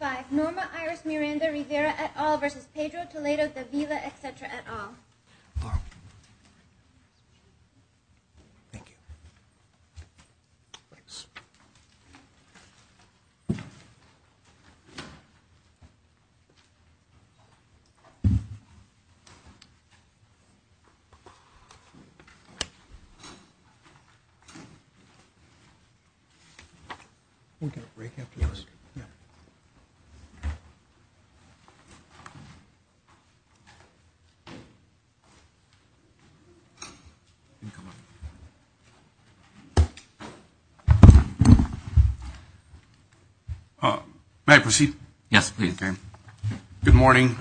3-5 Norma, Iris, Miranda, Rivera, et al. versus Pedro, Toledo, Davila, et cetera, et al. May I proceed? Yes, please. Okay. Good morning.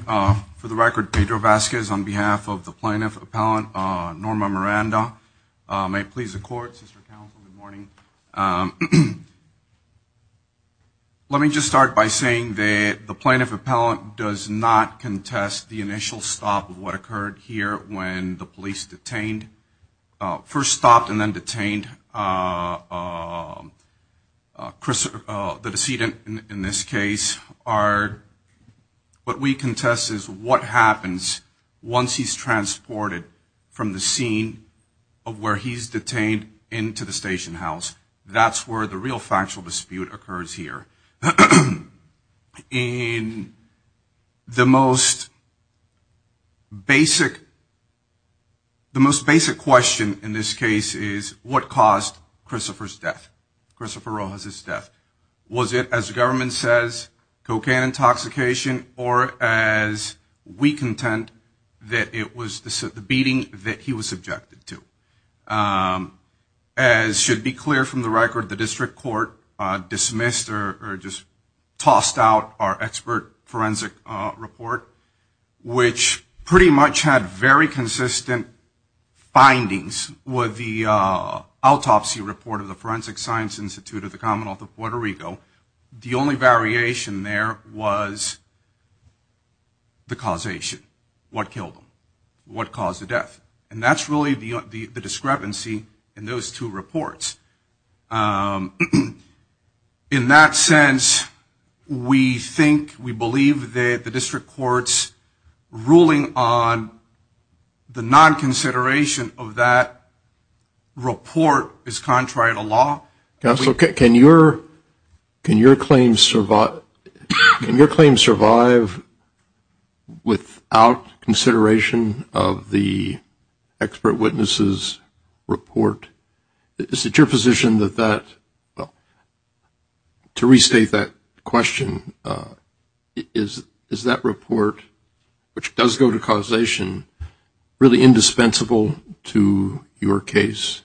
For the record, Pedro Vasquez on behalf of the plaintiff, appellant, Norma Miranda, may it please the court, sister counsel, good morning. Let me just start by saying that the plaintiff appellant does not contest the initial stop of what occurred here when the police detained, first stopped and then detained the defendant from the scene of where he's detained into the station house. That's where the real factual dispute occurs here. In the most basic, the most basic question in this case is what caused Christopher's death, Christopher Rojas' death? Was it, as the was subjected to? As should be clear from the record, the district court dismissed or just tossed out our expert forensic report, which pretty much had very consistent findings with the autopsy report of the Forensic Science Institute of the Commonwealth of Puerto Rico. The only And that's really the discrepancy in those two reports. In that sense, we think, we believe that the district court's ruling on the non-consideration of that report is contrary to law. Counsel, can your, can your claim survive, can your claim survive without consideration of the expert witnesses report? Is it your position that that, well, to restate that question, is that report, which does go to causation, really indispensable to your case?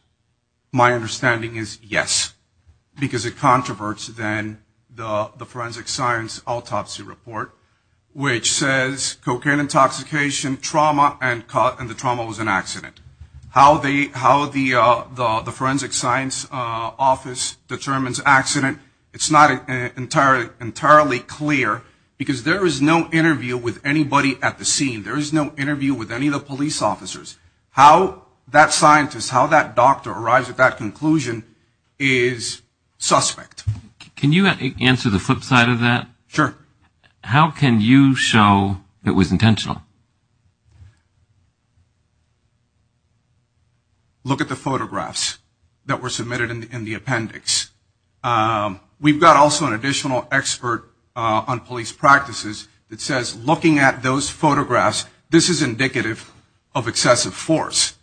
My understanding is yes, because it controverts then the forensic science autopsy report, which says cocaine intoxication, trauma, and the trauma was an accident. How the forensic science office determines accident, it's not entirely clear, because there is no interview with anybody at the scene. There is no interview with any of the police officers. How that scientist, how that doctor arrives at that Look at the photographs that were submitted in the appendix. We've got also an additional expert on police practices that says, looking at those photographs, this is indicative of excessive force.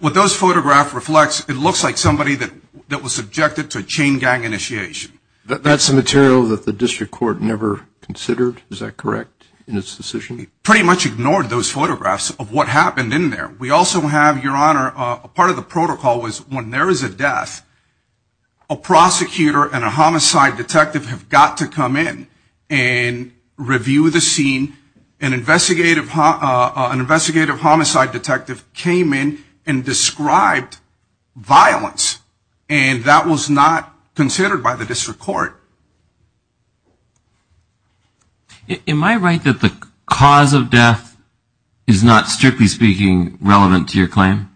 What those photographs reflect, it looks like somebody that was subjected to a chain gang initiation. That's a material that the Pretty much ignored those photographs of what happened in there. We also have, your honor, a part of the protocol was when there is a death, a prosecutor and a homicide detective have got to come in and review the scene. An investigative, an investigative homicide detective came in and described violence, and that was not The cause of death is not, strictly speaking, relevant to your claim?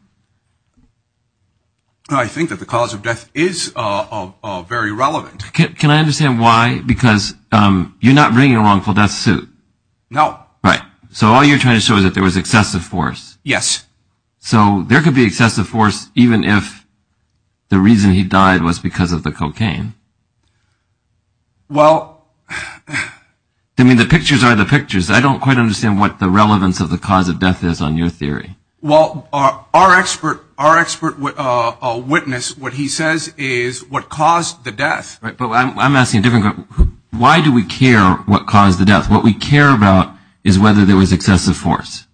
I think that the cause of death is very relevant. Can I understand why? Because you're not bringing a wrongful death suit. No. Right. So all you're trying to show is that there was excessive force. Yes. So there could be excessive force, even if the reason he died was because of the cocaine. Well, I mean, the pictures are the pictures. I don't quite understand what the relevance of the cause of death is on your theory. Well, our expert, our expert witness, what he says is what caused the death. But I'm asking a different question. Why do we care what caused the death? What we care about is whether there was excessive force.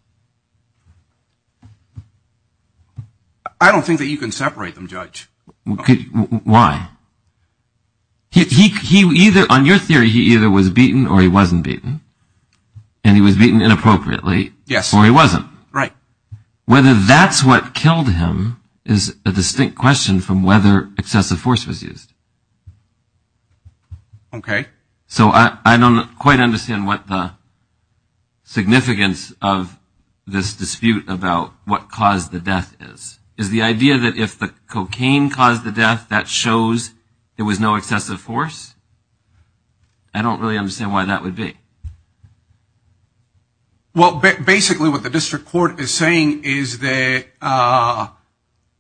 I don't think that you can separate them, Judge. Why? He either on your theory, he either was beaten or he wasn't beaten and he was beaten inappropriately. Yes. Or he wasn't. Right. Whether that's what killed him is a distinct question from whether excessive force was used. OK. So I don't quite understand what the. Significance of this dispute about what caused the death is, is the idea that if the cocaine caused the death, that shows there was no excessive force. I don't really understand why that would be. Well, basically, what the district court is saying is that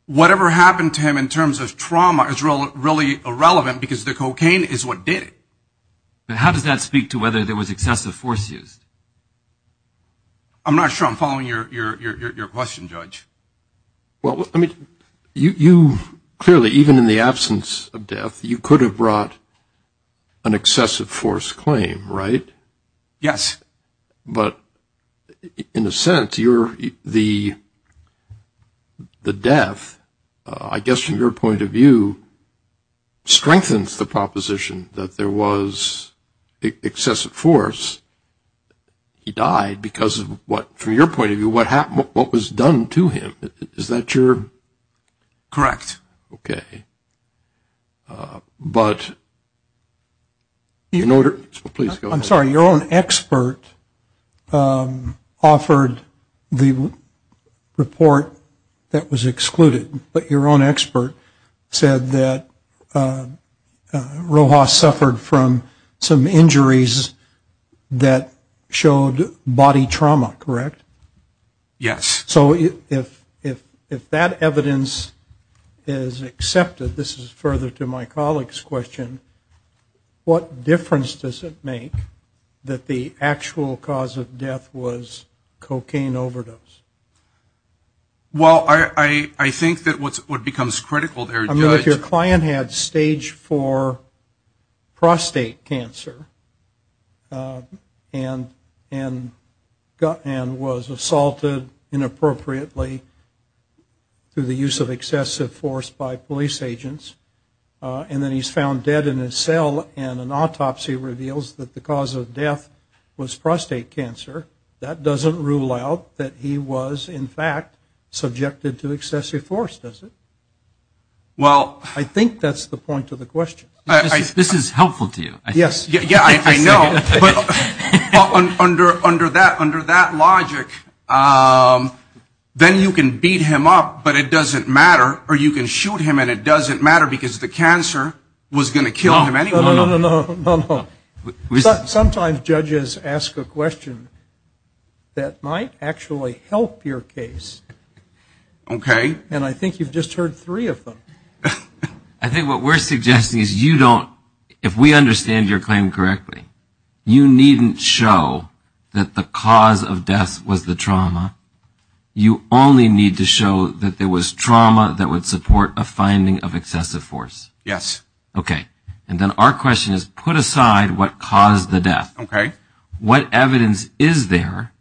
whatever happened to him in terms of whether or not there was excessive force used. I'm not sure I'm following your question, Judge. Well, I mean, you clearly, even in the absence of death, you could have brought an excessive force claim, right? Yes. But in a sense, you're the. The death, I guess, from your point of view, strengthens the proposition that there was excessive force. He died because of what, from your point of view, what happened, what was done to him, is that your. Correct. OK. But. In order, please, I'm sorry, your own expert offered the report that was excluded, but your own expert said that Rojas suffered from some injuries that showed body trauma, correct? Yes. So if, if, if that evidence is accepted, this is further to my colleague's question, what difference does it make that the actual cause of death was cocaine overdose? Well, I, I, I think that what's, what becomes critical there, Judge. I mean, if your client had stage four prostate cancer and, and, and was assaulted inappropriately through the use of excessive force by police agents, and then he's found dead in his cell and an autopsy reveals that the cause of death was prostate cancer, that doesn't rule out that he was, in fact, subjected to excessive force, does it? Well. I think that's the point of the question. This is helpful to you. Yes. Yeah, I know. But under, under that, under that logic, then you can beat him up, but it doesn't matter, or you can shoot him and it doesn't matter because the cancer was going to kill him anyway. No, no, no, no, no, no, no, no. I have a question that might actually help your case. Okay. And I think you've just heard three of them. I think what we're suggesting is you don't, if we understand your claim correctly, you needn't show that the cause of death was the trauma. You only need to show that there was trauma that would support a finding of excessive force. Yes. Okay. And then our question is put aside what caused the death. Okay. What evidence is there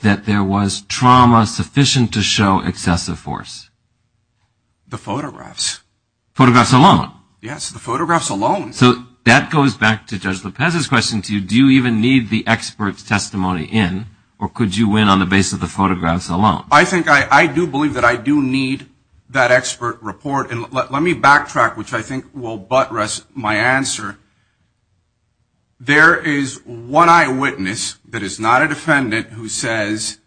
that there was trauma sufficient to show excessive force? The photographs. Photographs alone? Yes, the photographs alone. So that goes back to Judge Lopez's question to you. Do you even need the expert's testimony in, or could you win on the basis of the photographs alone? I think, I do believe that I do need that expert report. And let me backtrack, which I think will buttress my answer. There is one eyewitness that is not a defendant who says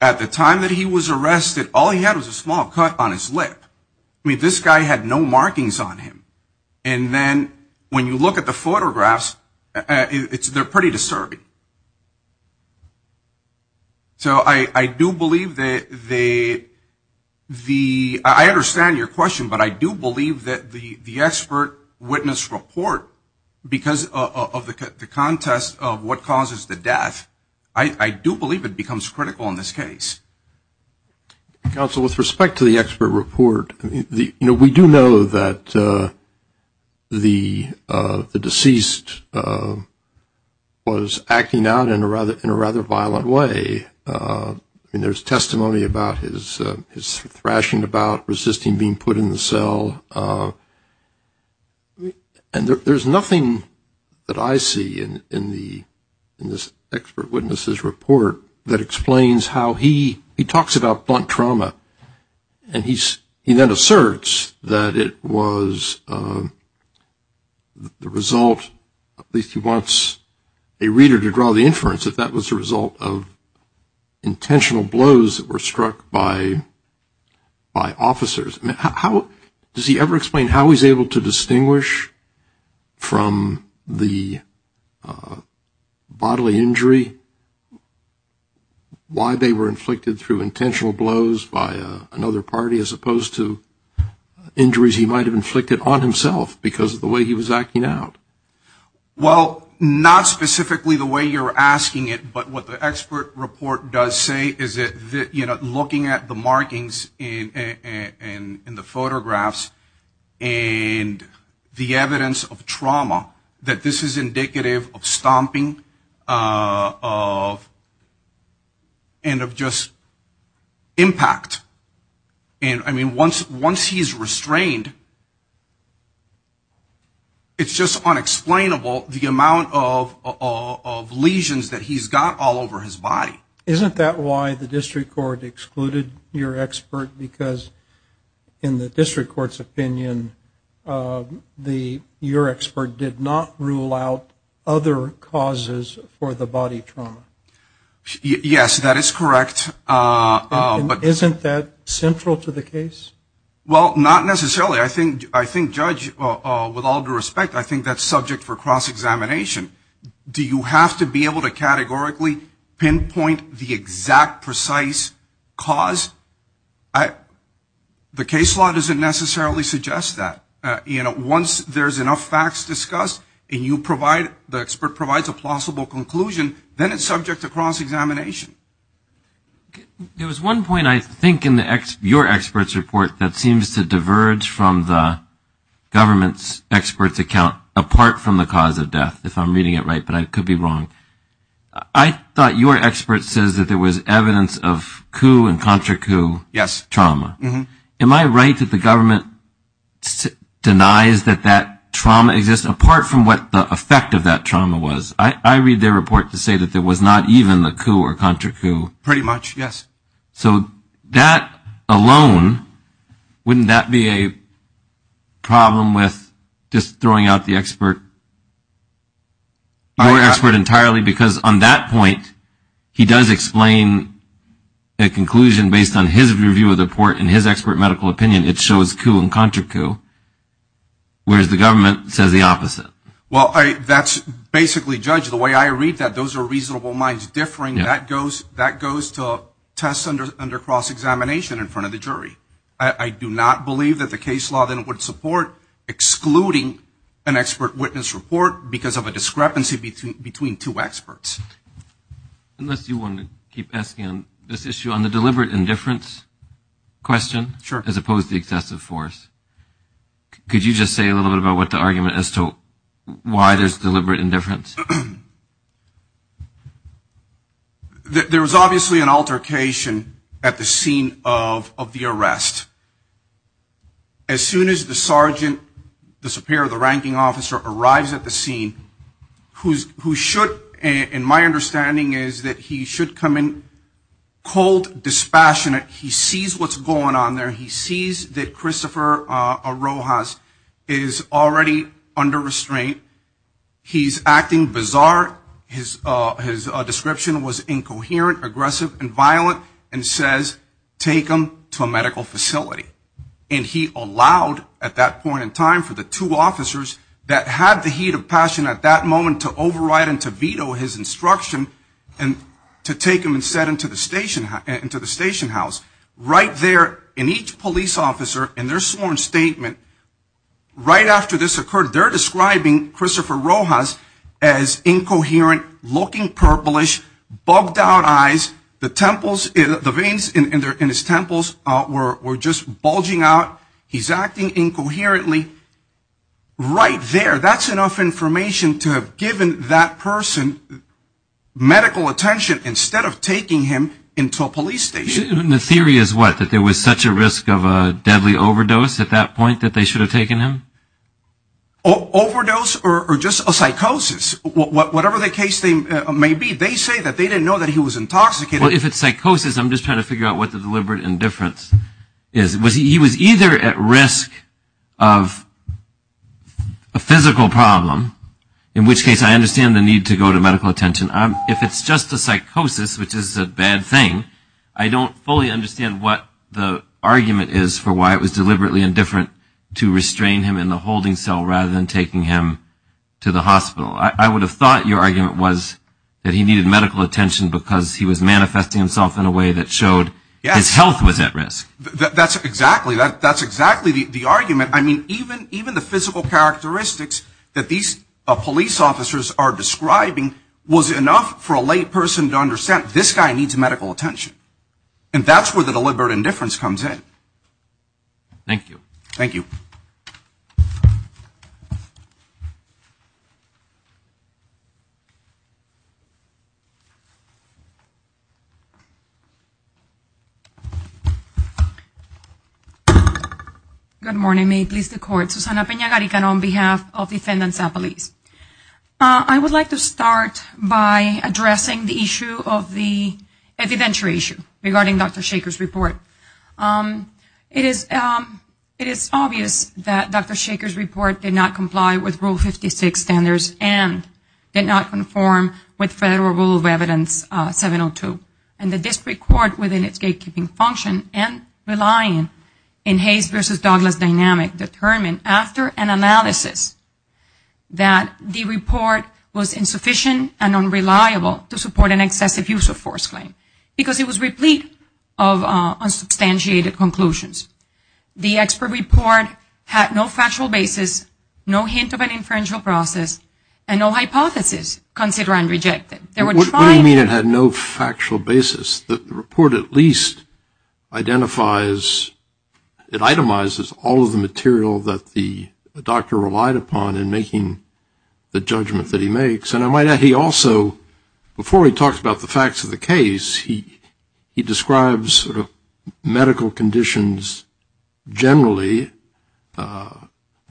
at the time that he was arrested, all he had was a small cut on his lip. I mean, this guy had no markings on him. And then when you look at the photographs, they're pretty disturbing. Right. So I do believe that the, I understand your question, but I do believe that the expert witness report, because of the contest of what causes the death, I do believe it becomes critical in this case. Counsel, with respect to the expert report, you know, we do know that the deceased was acting out in a rather violent way. I mean, there's testimony about his thrashing about resisting being put in the cell. And there's nothing that I see in this expert witness's report that explains how he, he talks about blunt trauma. And he then asserts that it was the result, at least he wants a reader to draw the inference, that that was the result of intentional blows that were struck by officers. Does he ever explain how he's able to distinguish from the bodily injury, why they were inflicted through intentional blows by another party, as opposed to injuries he might have inflicted on himself because of the way he was acting out? Well, not specifically the way you're asking it, but what the expert report does say is that, you know, looking at the markings in the photographs and the evidence of trauma, that this is indicative of stomping and of just impact. And, I mean, once he's restrained, it's just unexplainable the amount of lesions that he's got all over his body. Isn't that why the district court excluded your expert? Because in the district court's opinion, your expert did not rule out other causes for the body trauma. Yes, that is correct. Isn't that central to the case? Well, not necessarily. I think, Judge, with all due respect, I think that's subject for cross-examination. Do you have to be able to categorically pinpoint the exact precise cause? The case law doesn't necessarily suggest that. Once there's enough facts discussed and the expert provides a plausible conclusion, then it's subject to cross-examination. There was one point, I think, in your expert's report that seems to diverge from the government's expert's account, apart from the cause of death, if I'm reading it right, but I could be wrong. I thought your expert says that there was evidence of coup and contra coup trauma. Yes. Am I right that the government denies that that trauma exists, apart from what the effect of that trauma was? I read their report to say that there was not even the coup or contra coup. Pretty much, yes. So that alone, wouldn't that be a problem with just throwing out the expert? Your expert entirely, because on that point, he does explain a conclusion based on his review of the report and his expert medical opinion. It shows coup and contra coup, whereas the government says the opposite. Well, that's basically, Judge, the way I read that, those are reasonable minds differing. That goes to tests under cross-examination in front of the jury. I do not believe that the case law then would support excluding an expert witness report because of a discrepancy between two experts. Unless you want to keep asking this issue on the deliberate indifference question, as opposed to excessive force. Could you just say a little bit about what the argument as to why there's deliberate indifference? There was obviously an altercation at the scene of the arrest. As soon as the sergeant, the superior, the ranking officer arrives at the scene, who should, in my understanding, is that he should come in cold, dispassionate. He sees what's going on there. He sees that Christopher Rojas is already under restraint. He's acting bizarre. His description was incoherent, aggressive, and violent, and says, take him to a medical facility. And he allowed, at that point in time, for the two officers that had the heat of passion at that moment to override and to veto his instruction, and to take him instead into the station house. Right there, in each police officer, in their sworn statement, right after this occurred, they're describing Christopher Rojas as incoherent, looking purplish, bugged out eyes. The veins in his temples were just bulging out. He's acting incoherently. Right there, that's enough information to have given that person medical attention instead of taking him into a police station. And the theory is what, that there was such a risk of a deadly overdose at that point that they should have taken him? Overdose or just a psychosis? Whatever the case may be, they say that they didn't know that he was intoxicated. Well, if it's psychosis, I'm just trying to figure out what the deliberate indifference is. He was either at risk of a physical problem, in which case I understand the need to go to medical attention. If it's just a psychosis, which is a bad thing, I don't fully understand what the argument is for why it was deliberately indifferent to restrain him in the hospital. I would have thought your argument was that he needed medical attention because he was manifesting himself in a way that showed his health was at risk. That's exactly the argument. I mean, even the physical characteristics that these police officers are describing was enough for a layperson to understand this guy needs medical attention. And that's where the deliberate indifference comes in. Thank you. Good morning. I would like to start by addressing the issue of the evidentiary issue regarding Dr. Shachar's report. It is obvious that Dr. Shachar's report did not comply with Rule 56 standards and did not conform with Federal Rule of Evidence 702. And the district court, within its gatekeeping function and relying in Hayes v. Douglas dynamic, determined after an analysis that the report was insufficient and unreliable to support an excessive use of force claim. Because it was replete of unsubstantiated conclusions. The expert report had no factual basis, no hint of an inferential process, and no hypothesis, consider unrejected. What do you mean it had no factual basis? The report at least identifies, it itemizes all of the material that the doctor relied upon in making the judgment that he makes. And I might add he also, before he talks about the facts of the case, he describes sort of medical conditions generally,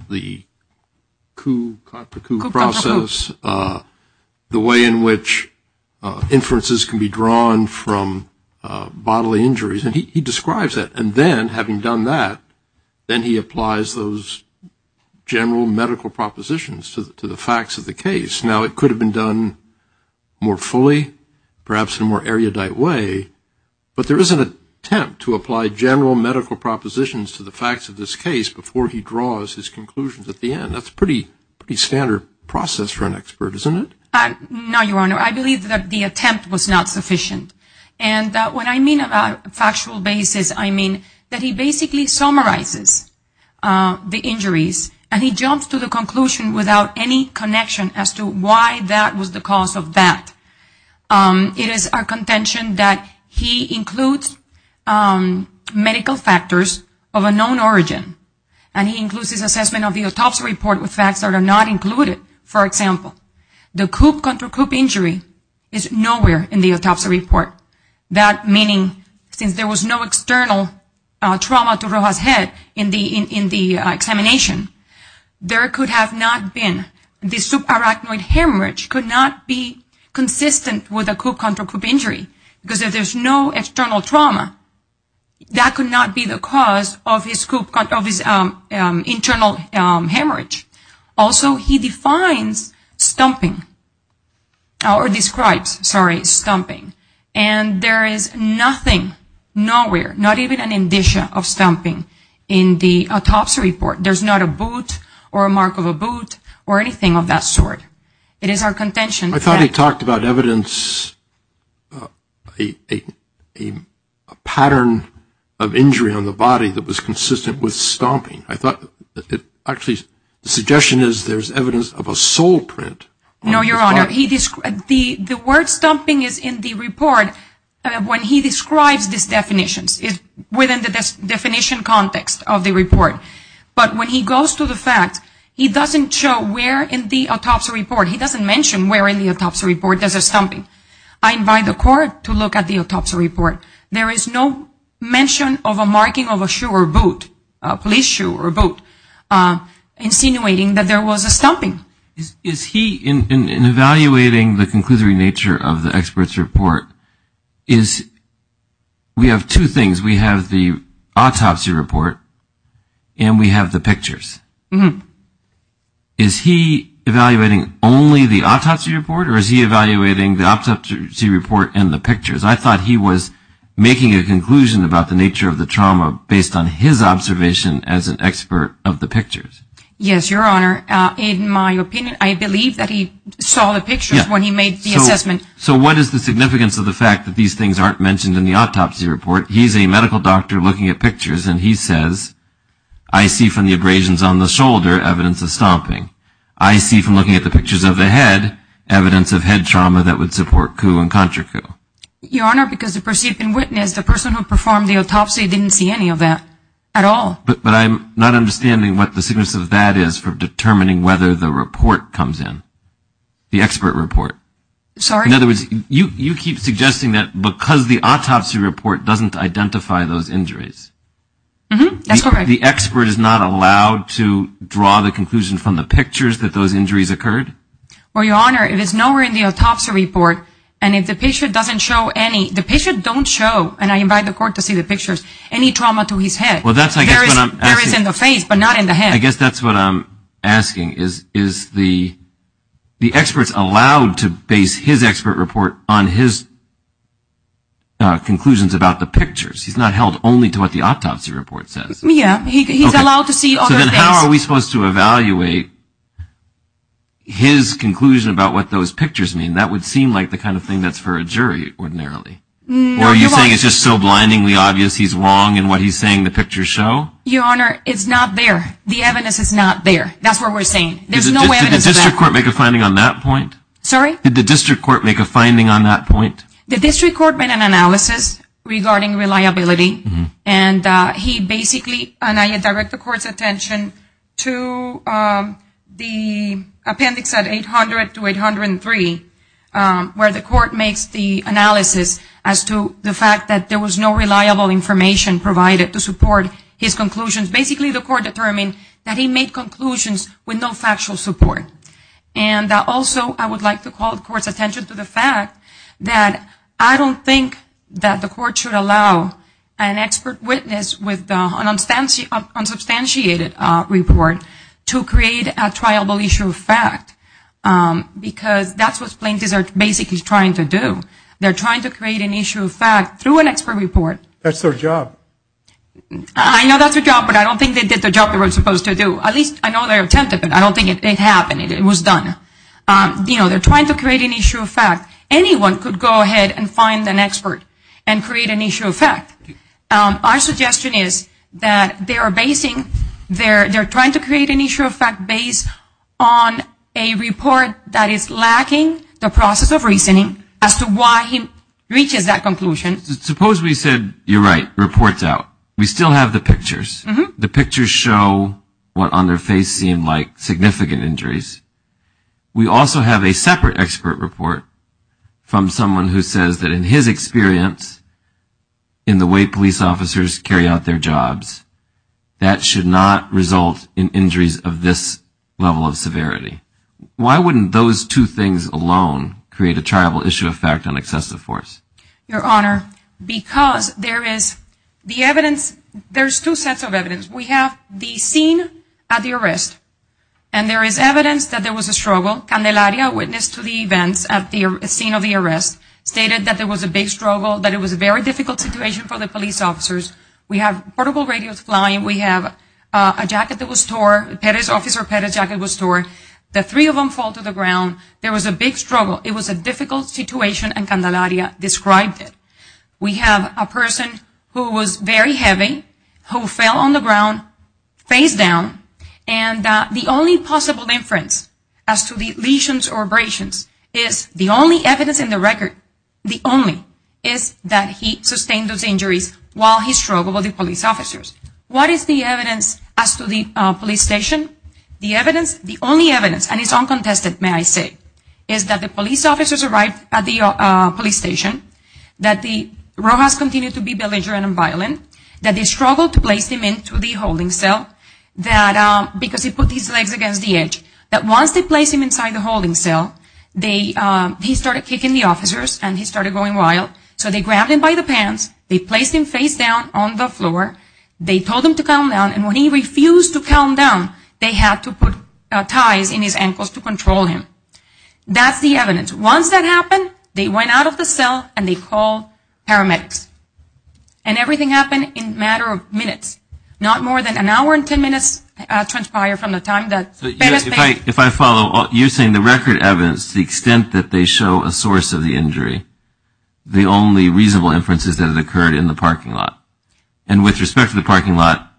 the coup-contra-coup process, the way in which inferences can be drawn from bodily injuries. And he describes that. And then, having done that, then he applies those general medical propositions to the facts of the case. Now, it could have been done more fully, perhaps in a more erudite way, but there is an attempt to apply general medical propositions to the facts of this case before he draws his conclusions at the end. That's a pretty standard process for an expert, isn't it? No, Your Honor, I believe that the attempt was not sufficient. And when I mean about factual basis, I mean that he basically summarizes the injuries, and he jumps to the conclusion without any connection as to why that was the cause of that. It is our contention that he includes medical factors of a known origin, and he includes his assessment of the autopsy report with facts that are not included. For example, the coup-contra-coup injury is nowhere in the autopsy report. That meaning, since there was no external trauma to Roja's head in the examination, there could have not been, the subarachnoid hemorrhage could not be consistent with a coup-contra-coup injury. Because if there's no external trauma, that could not be the cause of his internal hemorrhage. Also, he defines stomping, or describes, sorry, stomping. And there is nothing, nowhere, not even an indicia of stomping in the autopsy report. There's not a boot or a mark of a boot or anything of that sort. It is our contention that... I thought he talked about evidence, a pattern of injury on the body that was consistent with stomping. I thought, actually, the suggestion is there's evidence of a sole print on the body. No, Your Honor, the word stomping is in the report when he describes these definitions. It's within the definition context of the report. But when he goes to the facts, he doesn't show where in the autopsy report, he doesn't mention where in the autopsy report there's a stomping. I invite the court to look at the autopsy report. There is no mention of a marking of a shoe or a boot, a police shoe or a boot, insinuating that there was a stomping. In evaluating the conclusory nature of the expert's report, we have two things. We have the autopsy report, and we have the pictures. Is he evaluating only the autopsy report, or is he evaluating the autopsy report and the pictures? I thought he was making a conclusion about the nature of the trauma based on his observation as an expert of the pictures. Yes, Your Honor. In my opinion, I believe that he saw the pictures when he made the assessment. So what is the significance of the fact that these things aren't mentioned in the autopsy report? He's a medical doctor looking at pictures, and he says, I see from the abrasions on the shoulder evidence of stomping. I see from looking at the pictures of the head evidence of head trauma that would support coup and contracoup. Your Honor, because the person who performed the autopsy didn't see any of that at all. But I'm not understanding what the significance of that is for determining whether the report comes in. The expert report. In other words, you keep suggesting that because the autopsy report doesn't identify those injuries, the expert is not allowed to draw the conclusion from the pictures that those injuries occurred? Well, Your Honor, if it's nowhere in the autopsy report, and if the patient doesn't show any, the patient don't show, and I invite the court to see the pictures, any trauma to his head. There is in the face, but not in the head. I guess that's what I'm asking. Is the expert allowed to base his expert report on his conclusions about the pictures? He's not held only to what the autopsy report says. Yeah, he's allowed to see other things. So how are we supposed to evaluate his conclusion about what those pictures mean? That would seem like the kind of thing that's for a jury ordinarily. Or are you saying it's just so blindingly obvious he's wrong in what he's saying the pictures show? Your Honor, it's not there. The evidence is not there. Did the district court make a finding on that point? The district court made an analysis regarding reliability, and he basically, and I direct the court's attention to the appendix at 800-803, where the court makes the analysis as to the fact that there was no reliable information provided to support his conclusions. Basically, the court determined that he made conclusions with no factual support. And also, I would like to call the court's attention to the fact that I don't think that the court should allow an expert witness with an unsubstantiated report to create a triable issue of fact, because that's what plaintiffs are basically trying to do. They're trying to create an issue of fact through an expert report. That's their job. I know that's their job, but I don't think they did the job they were supposed to do. At least I know they attempted, but I don't think it happened. It was done. Anyone could go ahead and find an expert and create an issue of fact. Our suggestion is that they're trying to create an issue of fact based on a report that is lacking the process of reasoning as to why he reaches that conclusion. Suppose we said, you're right, report's out. We still have the pictures. The pictures show what on their face seemed like significant injuries. We also have a separate expert report from someone who says that in his experience, in the way police officers carry out their jobs, that should not result in injuries of this level of severity. Why wouldn't those two things alone create a triable issue of fact on excessive force? Your Honor, because there's two sets of evidence. We have the scene at the arrest, and there is evidence that there was a struggle. Candelaria, witness to the events at the scene of the arrest, stated that there was a big struggle, that it was a very difficult situation for the police officers. We have portable radios flying. We have a jacket that was torn. The three of them fall to the ground. There was a big struggle. It was a difficult situation, and Candelaria described it. We have a person who was very heavy, who fell on the ground, face down, and the only possible inference as to the lesions or abrasions is the only evidence in the record, the only, is that he sustained those injuries while he struggled with the police officers. What is the evidence as to the police station? The evidence, the only evidence, and it's uncontested, may I say, is that the police officers arrived at the police station, that the Rojas continued to be belligerent and violent, that they struggled to place him into the holding cell because he put his legs against the edge, that once they placed him inside the holding cell, he started kicking the officers and he started going wild. So they grabbed him by the pants, they placed him face down on the floor, they told him to calm down, and when he refused to calm down, they had to put ties in his ankles to control him. That's the evidence. Once that happened, they went out of the cell and they called paramedics. And everything happened in a matter of minutes. Not more than an hour and ten minutes transpired from the time that... If I follow, you're saying the record evidence, the extent that they show a source of the injury, the only reasonable inference is that it occurred in the parking lot. And with respect to the parking lot,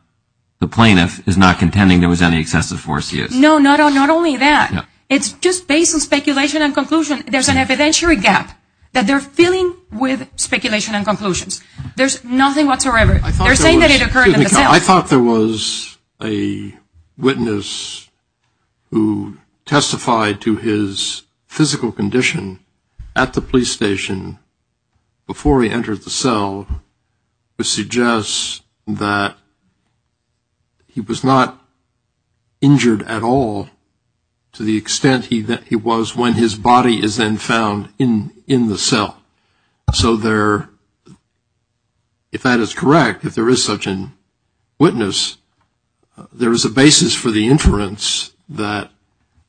the plaintiff is not contending there was any excessive force used. No, not only that. It's just based on speculation and conclusion. There's an evidentiary gap that they're filling with speculation and conclusions. There's nothing whatsoever. They're saying that it occurred in the cell. I thought there was a witness who testified to his physical condition at the police station before he entered the cell which suggests that he was not injured at all to the extent he was when his body is then found in the cell. So if that is correct, if there is such a witness, there is a basis for the inference that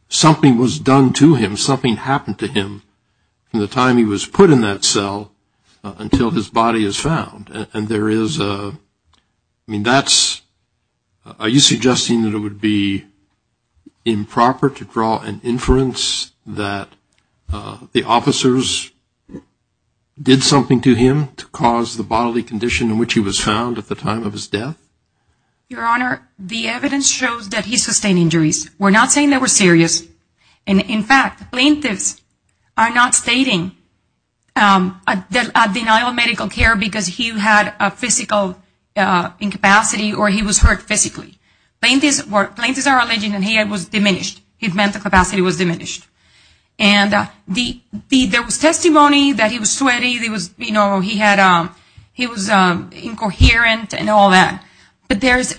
something was done to him, that something happened to him from the time he was put in that cell until his body is found. And there is a... I mean, that's... Are you suggesting that it would be improper to draw an inference that the officers did something to him to cause the bodily condition in which he was found at the time of his death? Your Honor, the evidence shows that he sustained injuries. We're not saying they were serious. And in fact, plaintiffs are not stating a denial of medical care because he had a physical incapacity or he was hurt physically. Plaintiffs are alleging that he was diminished, his mental capacity was diminished. And there was testimony that he was sweaty, he was incoherent and all that. But there is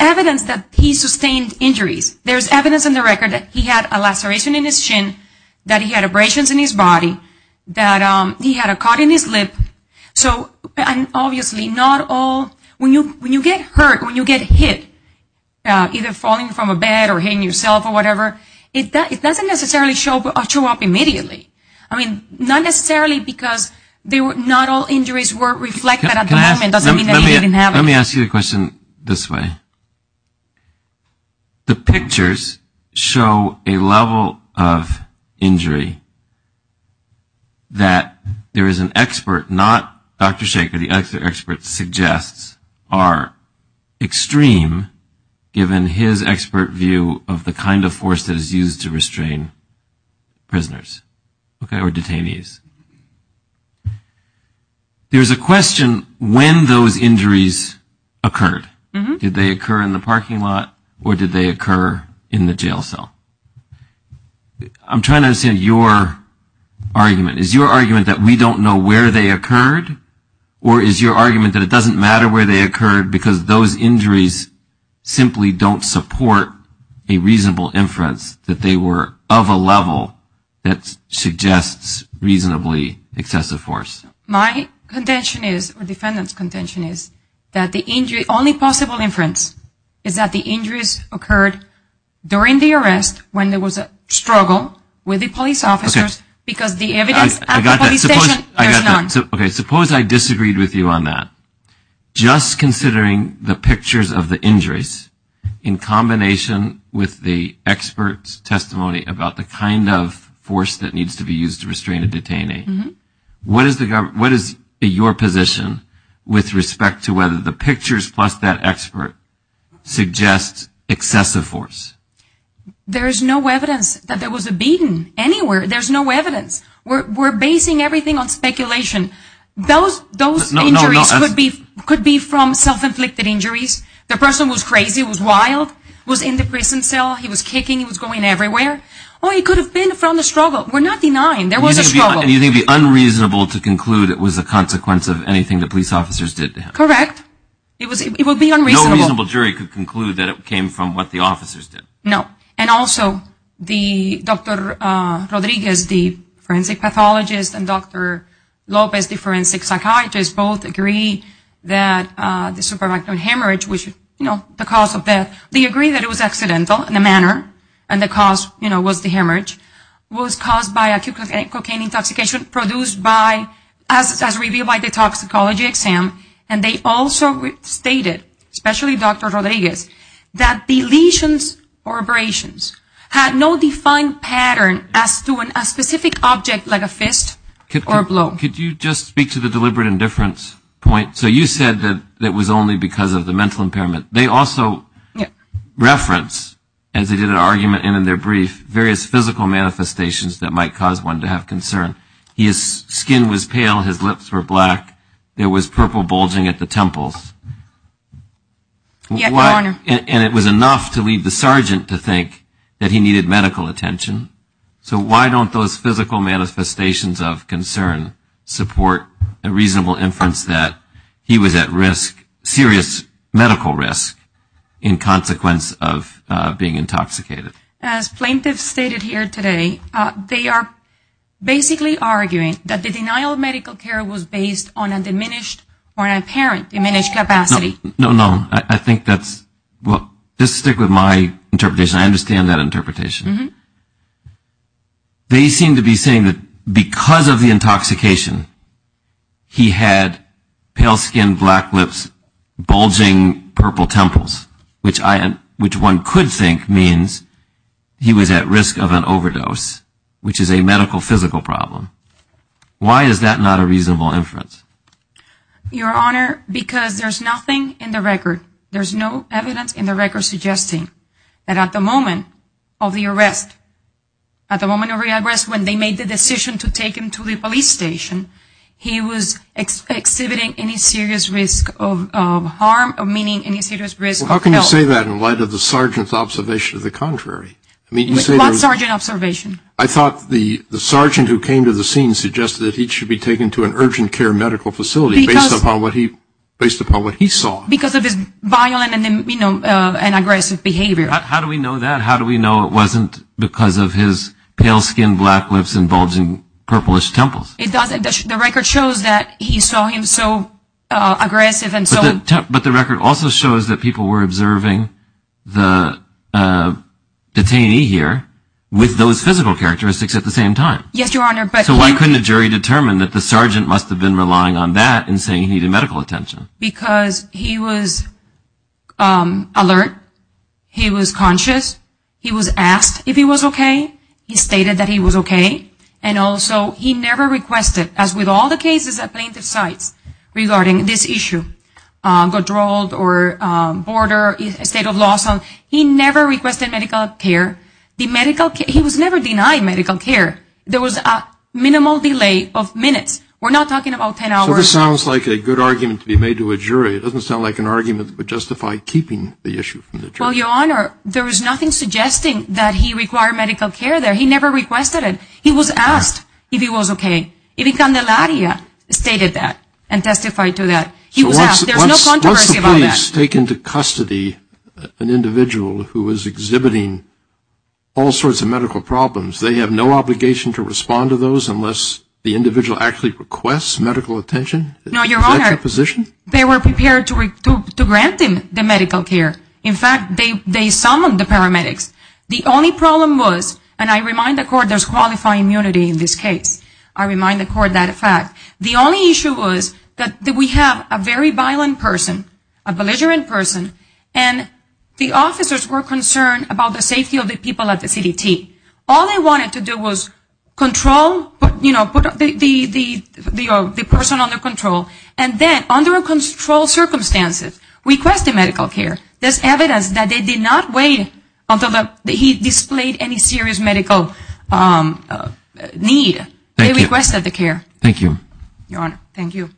evidence that he sustained injuries. There is evidence in the record that he had a laceration in his shin, that he had abrasions in his body, that he had a cut in his lip. So obviously not all... When you get hurt, when you get hit, either falling from a bed or hitting yourself or whatever, it doesn't necessarily show up immediately. I mean, not necessarily because not all injuries were reflected at the moment. It doesn't mean that he didn't have... Let me ask you a question this way. The pictures show a level of injury that there is an expert, not Dr. Shacher, the expert suggests are extreme, given his expert view of the kind of force that is used to restrain prisoners or detainees. There is a question when those injuries occurred. Did they occur in the parking lot or did they occur in the jail cell? I'm trying to understand your argument. Is your argument that we don't know where they occurred or is your argument that it doesn't matter where they occurred because those injuries simply don't support a reasonable inference that they were of a level that suggests reasonably excessive force? My contention is, or defendant's contention is, that the injury... The only possible inference is that the injuries occurred during the arrest when there was a struggle with the police officers because the evidence at the police station... Okay, suppose I disagreed with you on that. Just considering the pictures of the injuries in combination with the expert's testimony about the kind of force that needs to be used to restrain a detainee, what is your position with respect to whether the pictures plus that expert suggest excessive force? There is no evidence that there was a beating anywhere. There's no evidence. We're basing everything on speculation. Those injuries could be from self-inflicted injuries. The person was crazy, was wild, was in the prison cell, he was kicking, he was going everywhere. It could have been from the struggle. We're not denying there was a struggle. You think it would be unreasonable to conclude it was a consequence of anything the police officers did to him? Correct. It would be unreasonable. No reasonable jury could conclude that it came from what the officers did. No. And also, Dr. Rodriguez, the forensic pathologist, and Dr. Lopez, the forensic psychiatrist, both agree that the supervisor hemorrhage, which is the cause of death, they agree that it was accidental in a manner and the cause was the hemorrhage, was caused by cocaine intoxication produced as revealed by the toxicology exam. And they also stated, especially Dr. Rodriguez, that the lesions or abrasions had no defined pattern as to a specific object like a fist or a blow. Could you just speak to the deliberate indifference point? So you said that it was only because of the mental impairment. They also reference, as they did an argument in their brief, various physical manifestations that might cause one to have concern. His skin was pale. His lips were black. There was purple bulging at the temples. Yes, Your Honor. And it was enough to lead the sergeant to think that he needed medical attention. So why don't those physical manifestations of concern support a reasonable inference that he was at risk, serious medical risk, in consequence of being intoxicated? As plaintiffs stated here today, they are basically arguing that the denial of medical care was based on a diminished or an apparent diminished capacity. No, no. I think that's, well, just stick with my interpretation. I understand that interpretation. They seem to be saying that because of the intoxication, he had pale skin, black lips, bulging purple temples, which one could think means he was at risk of an overdose, which is a medical, physical problem. Why is that not a reasonable inference? Your Honor, because there's nothing in the record, there's no evidence in the record suggesting that at the moment of the arrest, at the moment of the arrest when they made the decision to take him to the police station, he was exhibiting any serious risk of harm, meaning any serious risk of health. Well, how can you say that in light of the sergeant's observation of the contrary? What sergeant observation? I thought the sergeant who came to the scene suggested that he should be taken to an urgent care medical facility based upon what he saw. Because of his violent and aggressive behavior. How do we know that? How do we know it wasn't because of his pale skin, black lips, and bulging purplish temples? The record shows that he saw him so aggressive. But the record also shows that people were observing the detainee here with those physical characteristics at the same time. Yes, Your Honor. So why couldn't a jury determine that the sergeant must have been relying on that in saying he needed medical attention? Because he was alert, he was conscious, he was asked if he was okay, he stated that he was okay, and also he never requested, as with all the cases at plaintiff's sites regarding this issue, Godrold or Border, State of Lawson, he never requested medical care. He was never denied medical care. There was a minimal delay of minutes. We're not talking about ten hours. So this sounds like a good argument to be made to a jury. It doesn't sound like an argument that would justify keeping the issue from the jury. Well, Your Honor, there was nothing suggesting that he required medical care there. He never requested it. He was asked if he was okay. Even Candelaria stated that and testified to that. He was asked. There's no controversy about that. So once the police take into custody an individual who is exhibiting all sorts of medical problems, they have no obligation to respond to those unless the individual actually requests medical attention? No, Your Honor. Is that your position? They were prepared to grant him the medical care. In fact, they summoned the paramedics. The only problem was, and I remind the Court there's qualifying immunity in this case. I remind the Court that fact. The only issue was that we have a very violent person, a belligerent person, and the officers were concerned about the safety of the people at the CDT. All they wanted to do was control, you know, put the person under control, and then under controlled circumstances request the medical care. There's evidence that they did not wait until he displayed any serious medical need. They requested the care. Thank you. Your Honor, thank you.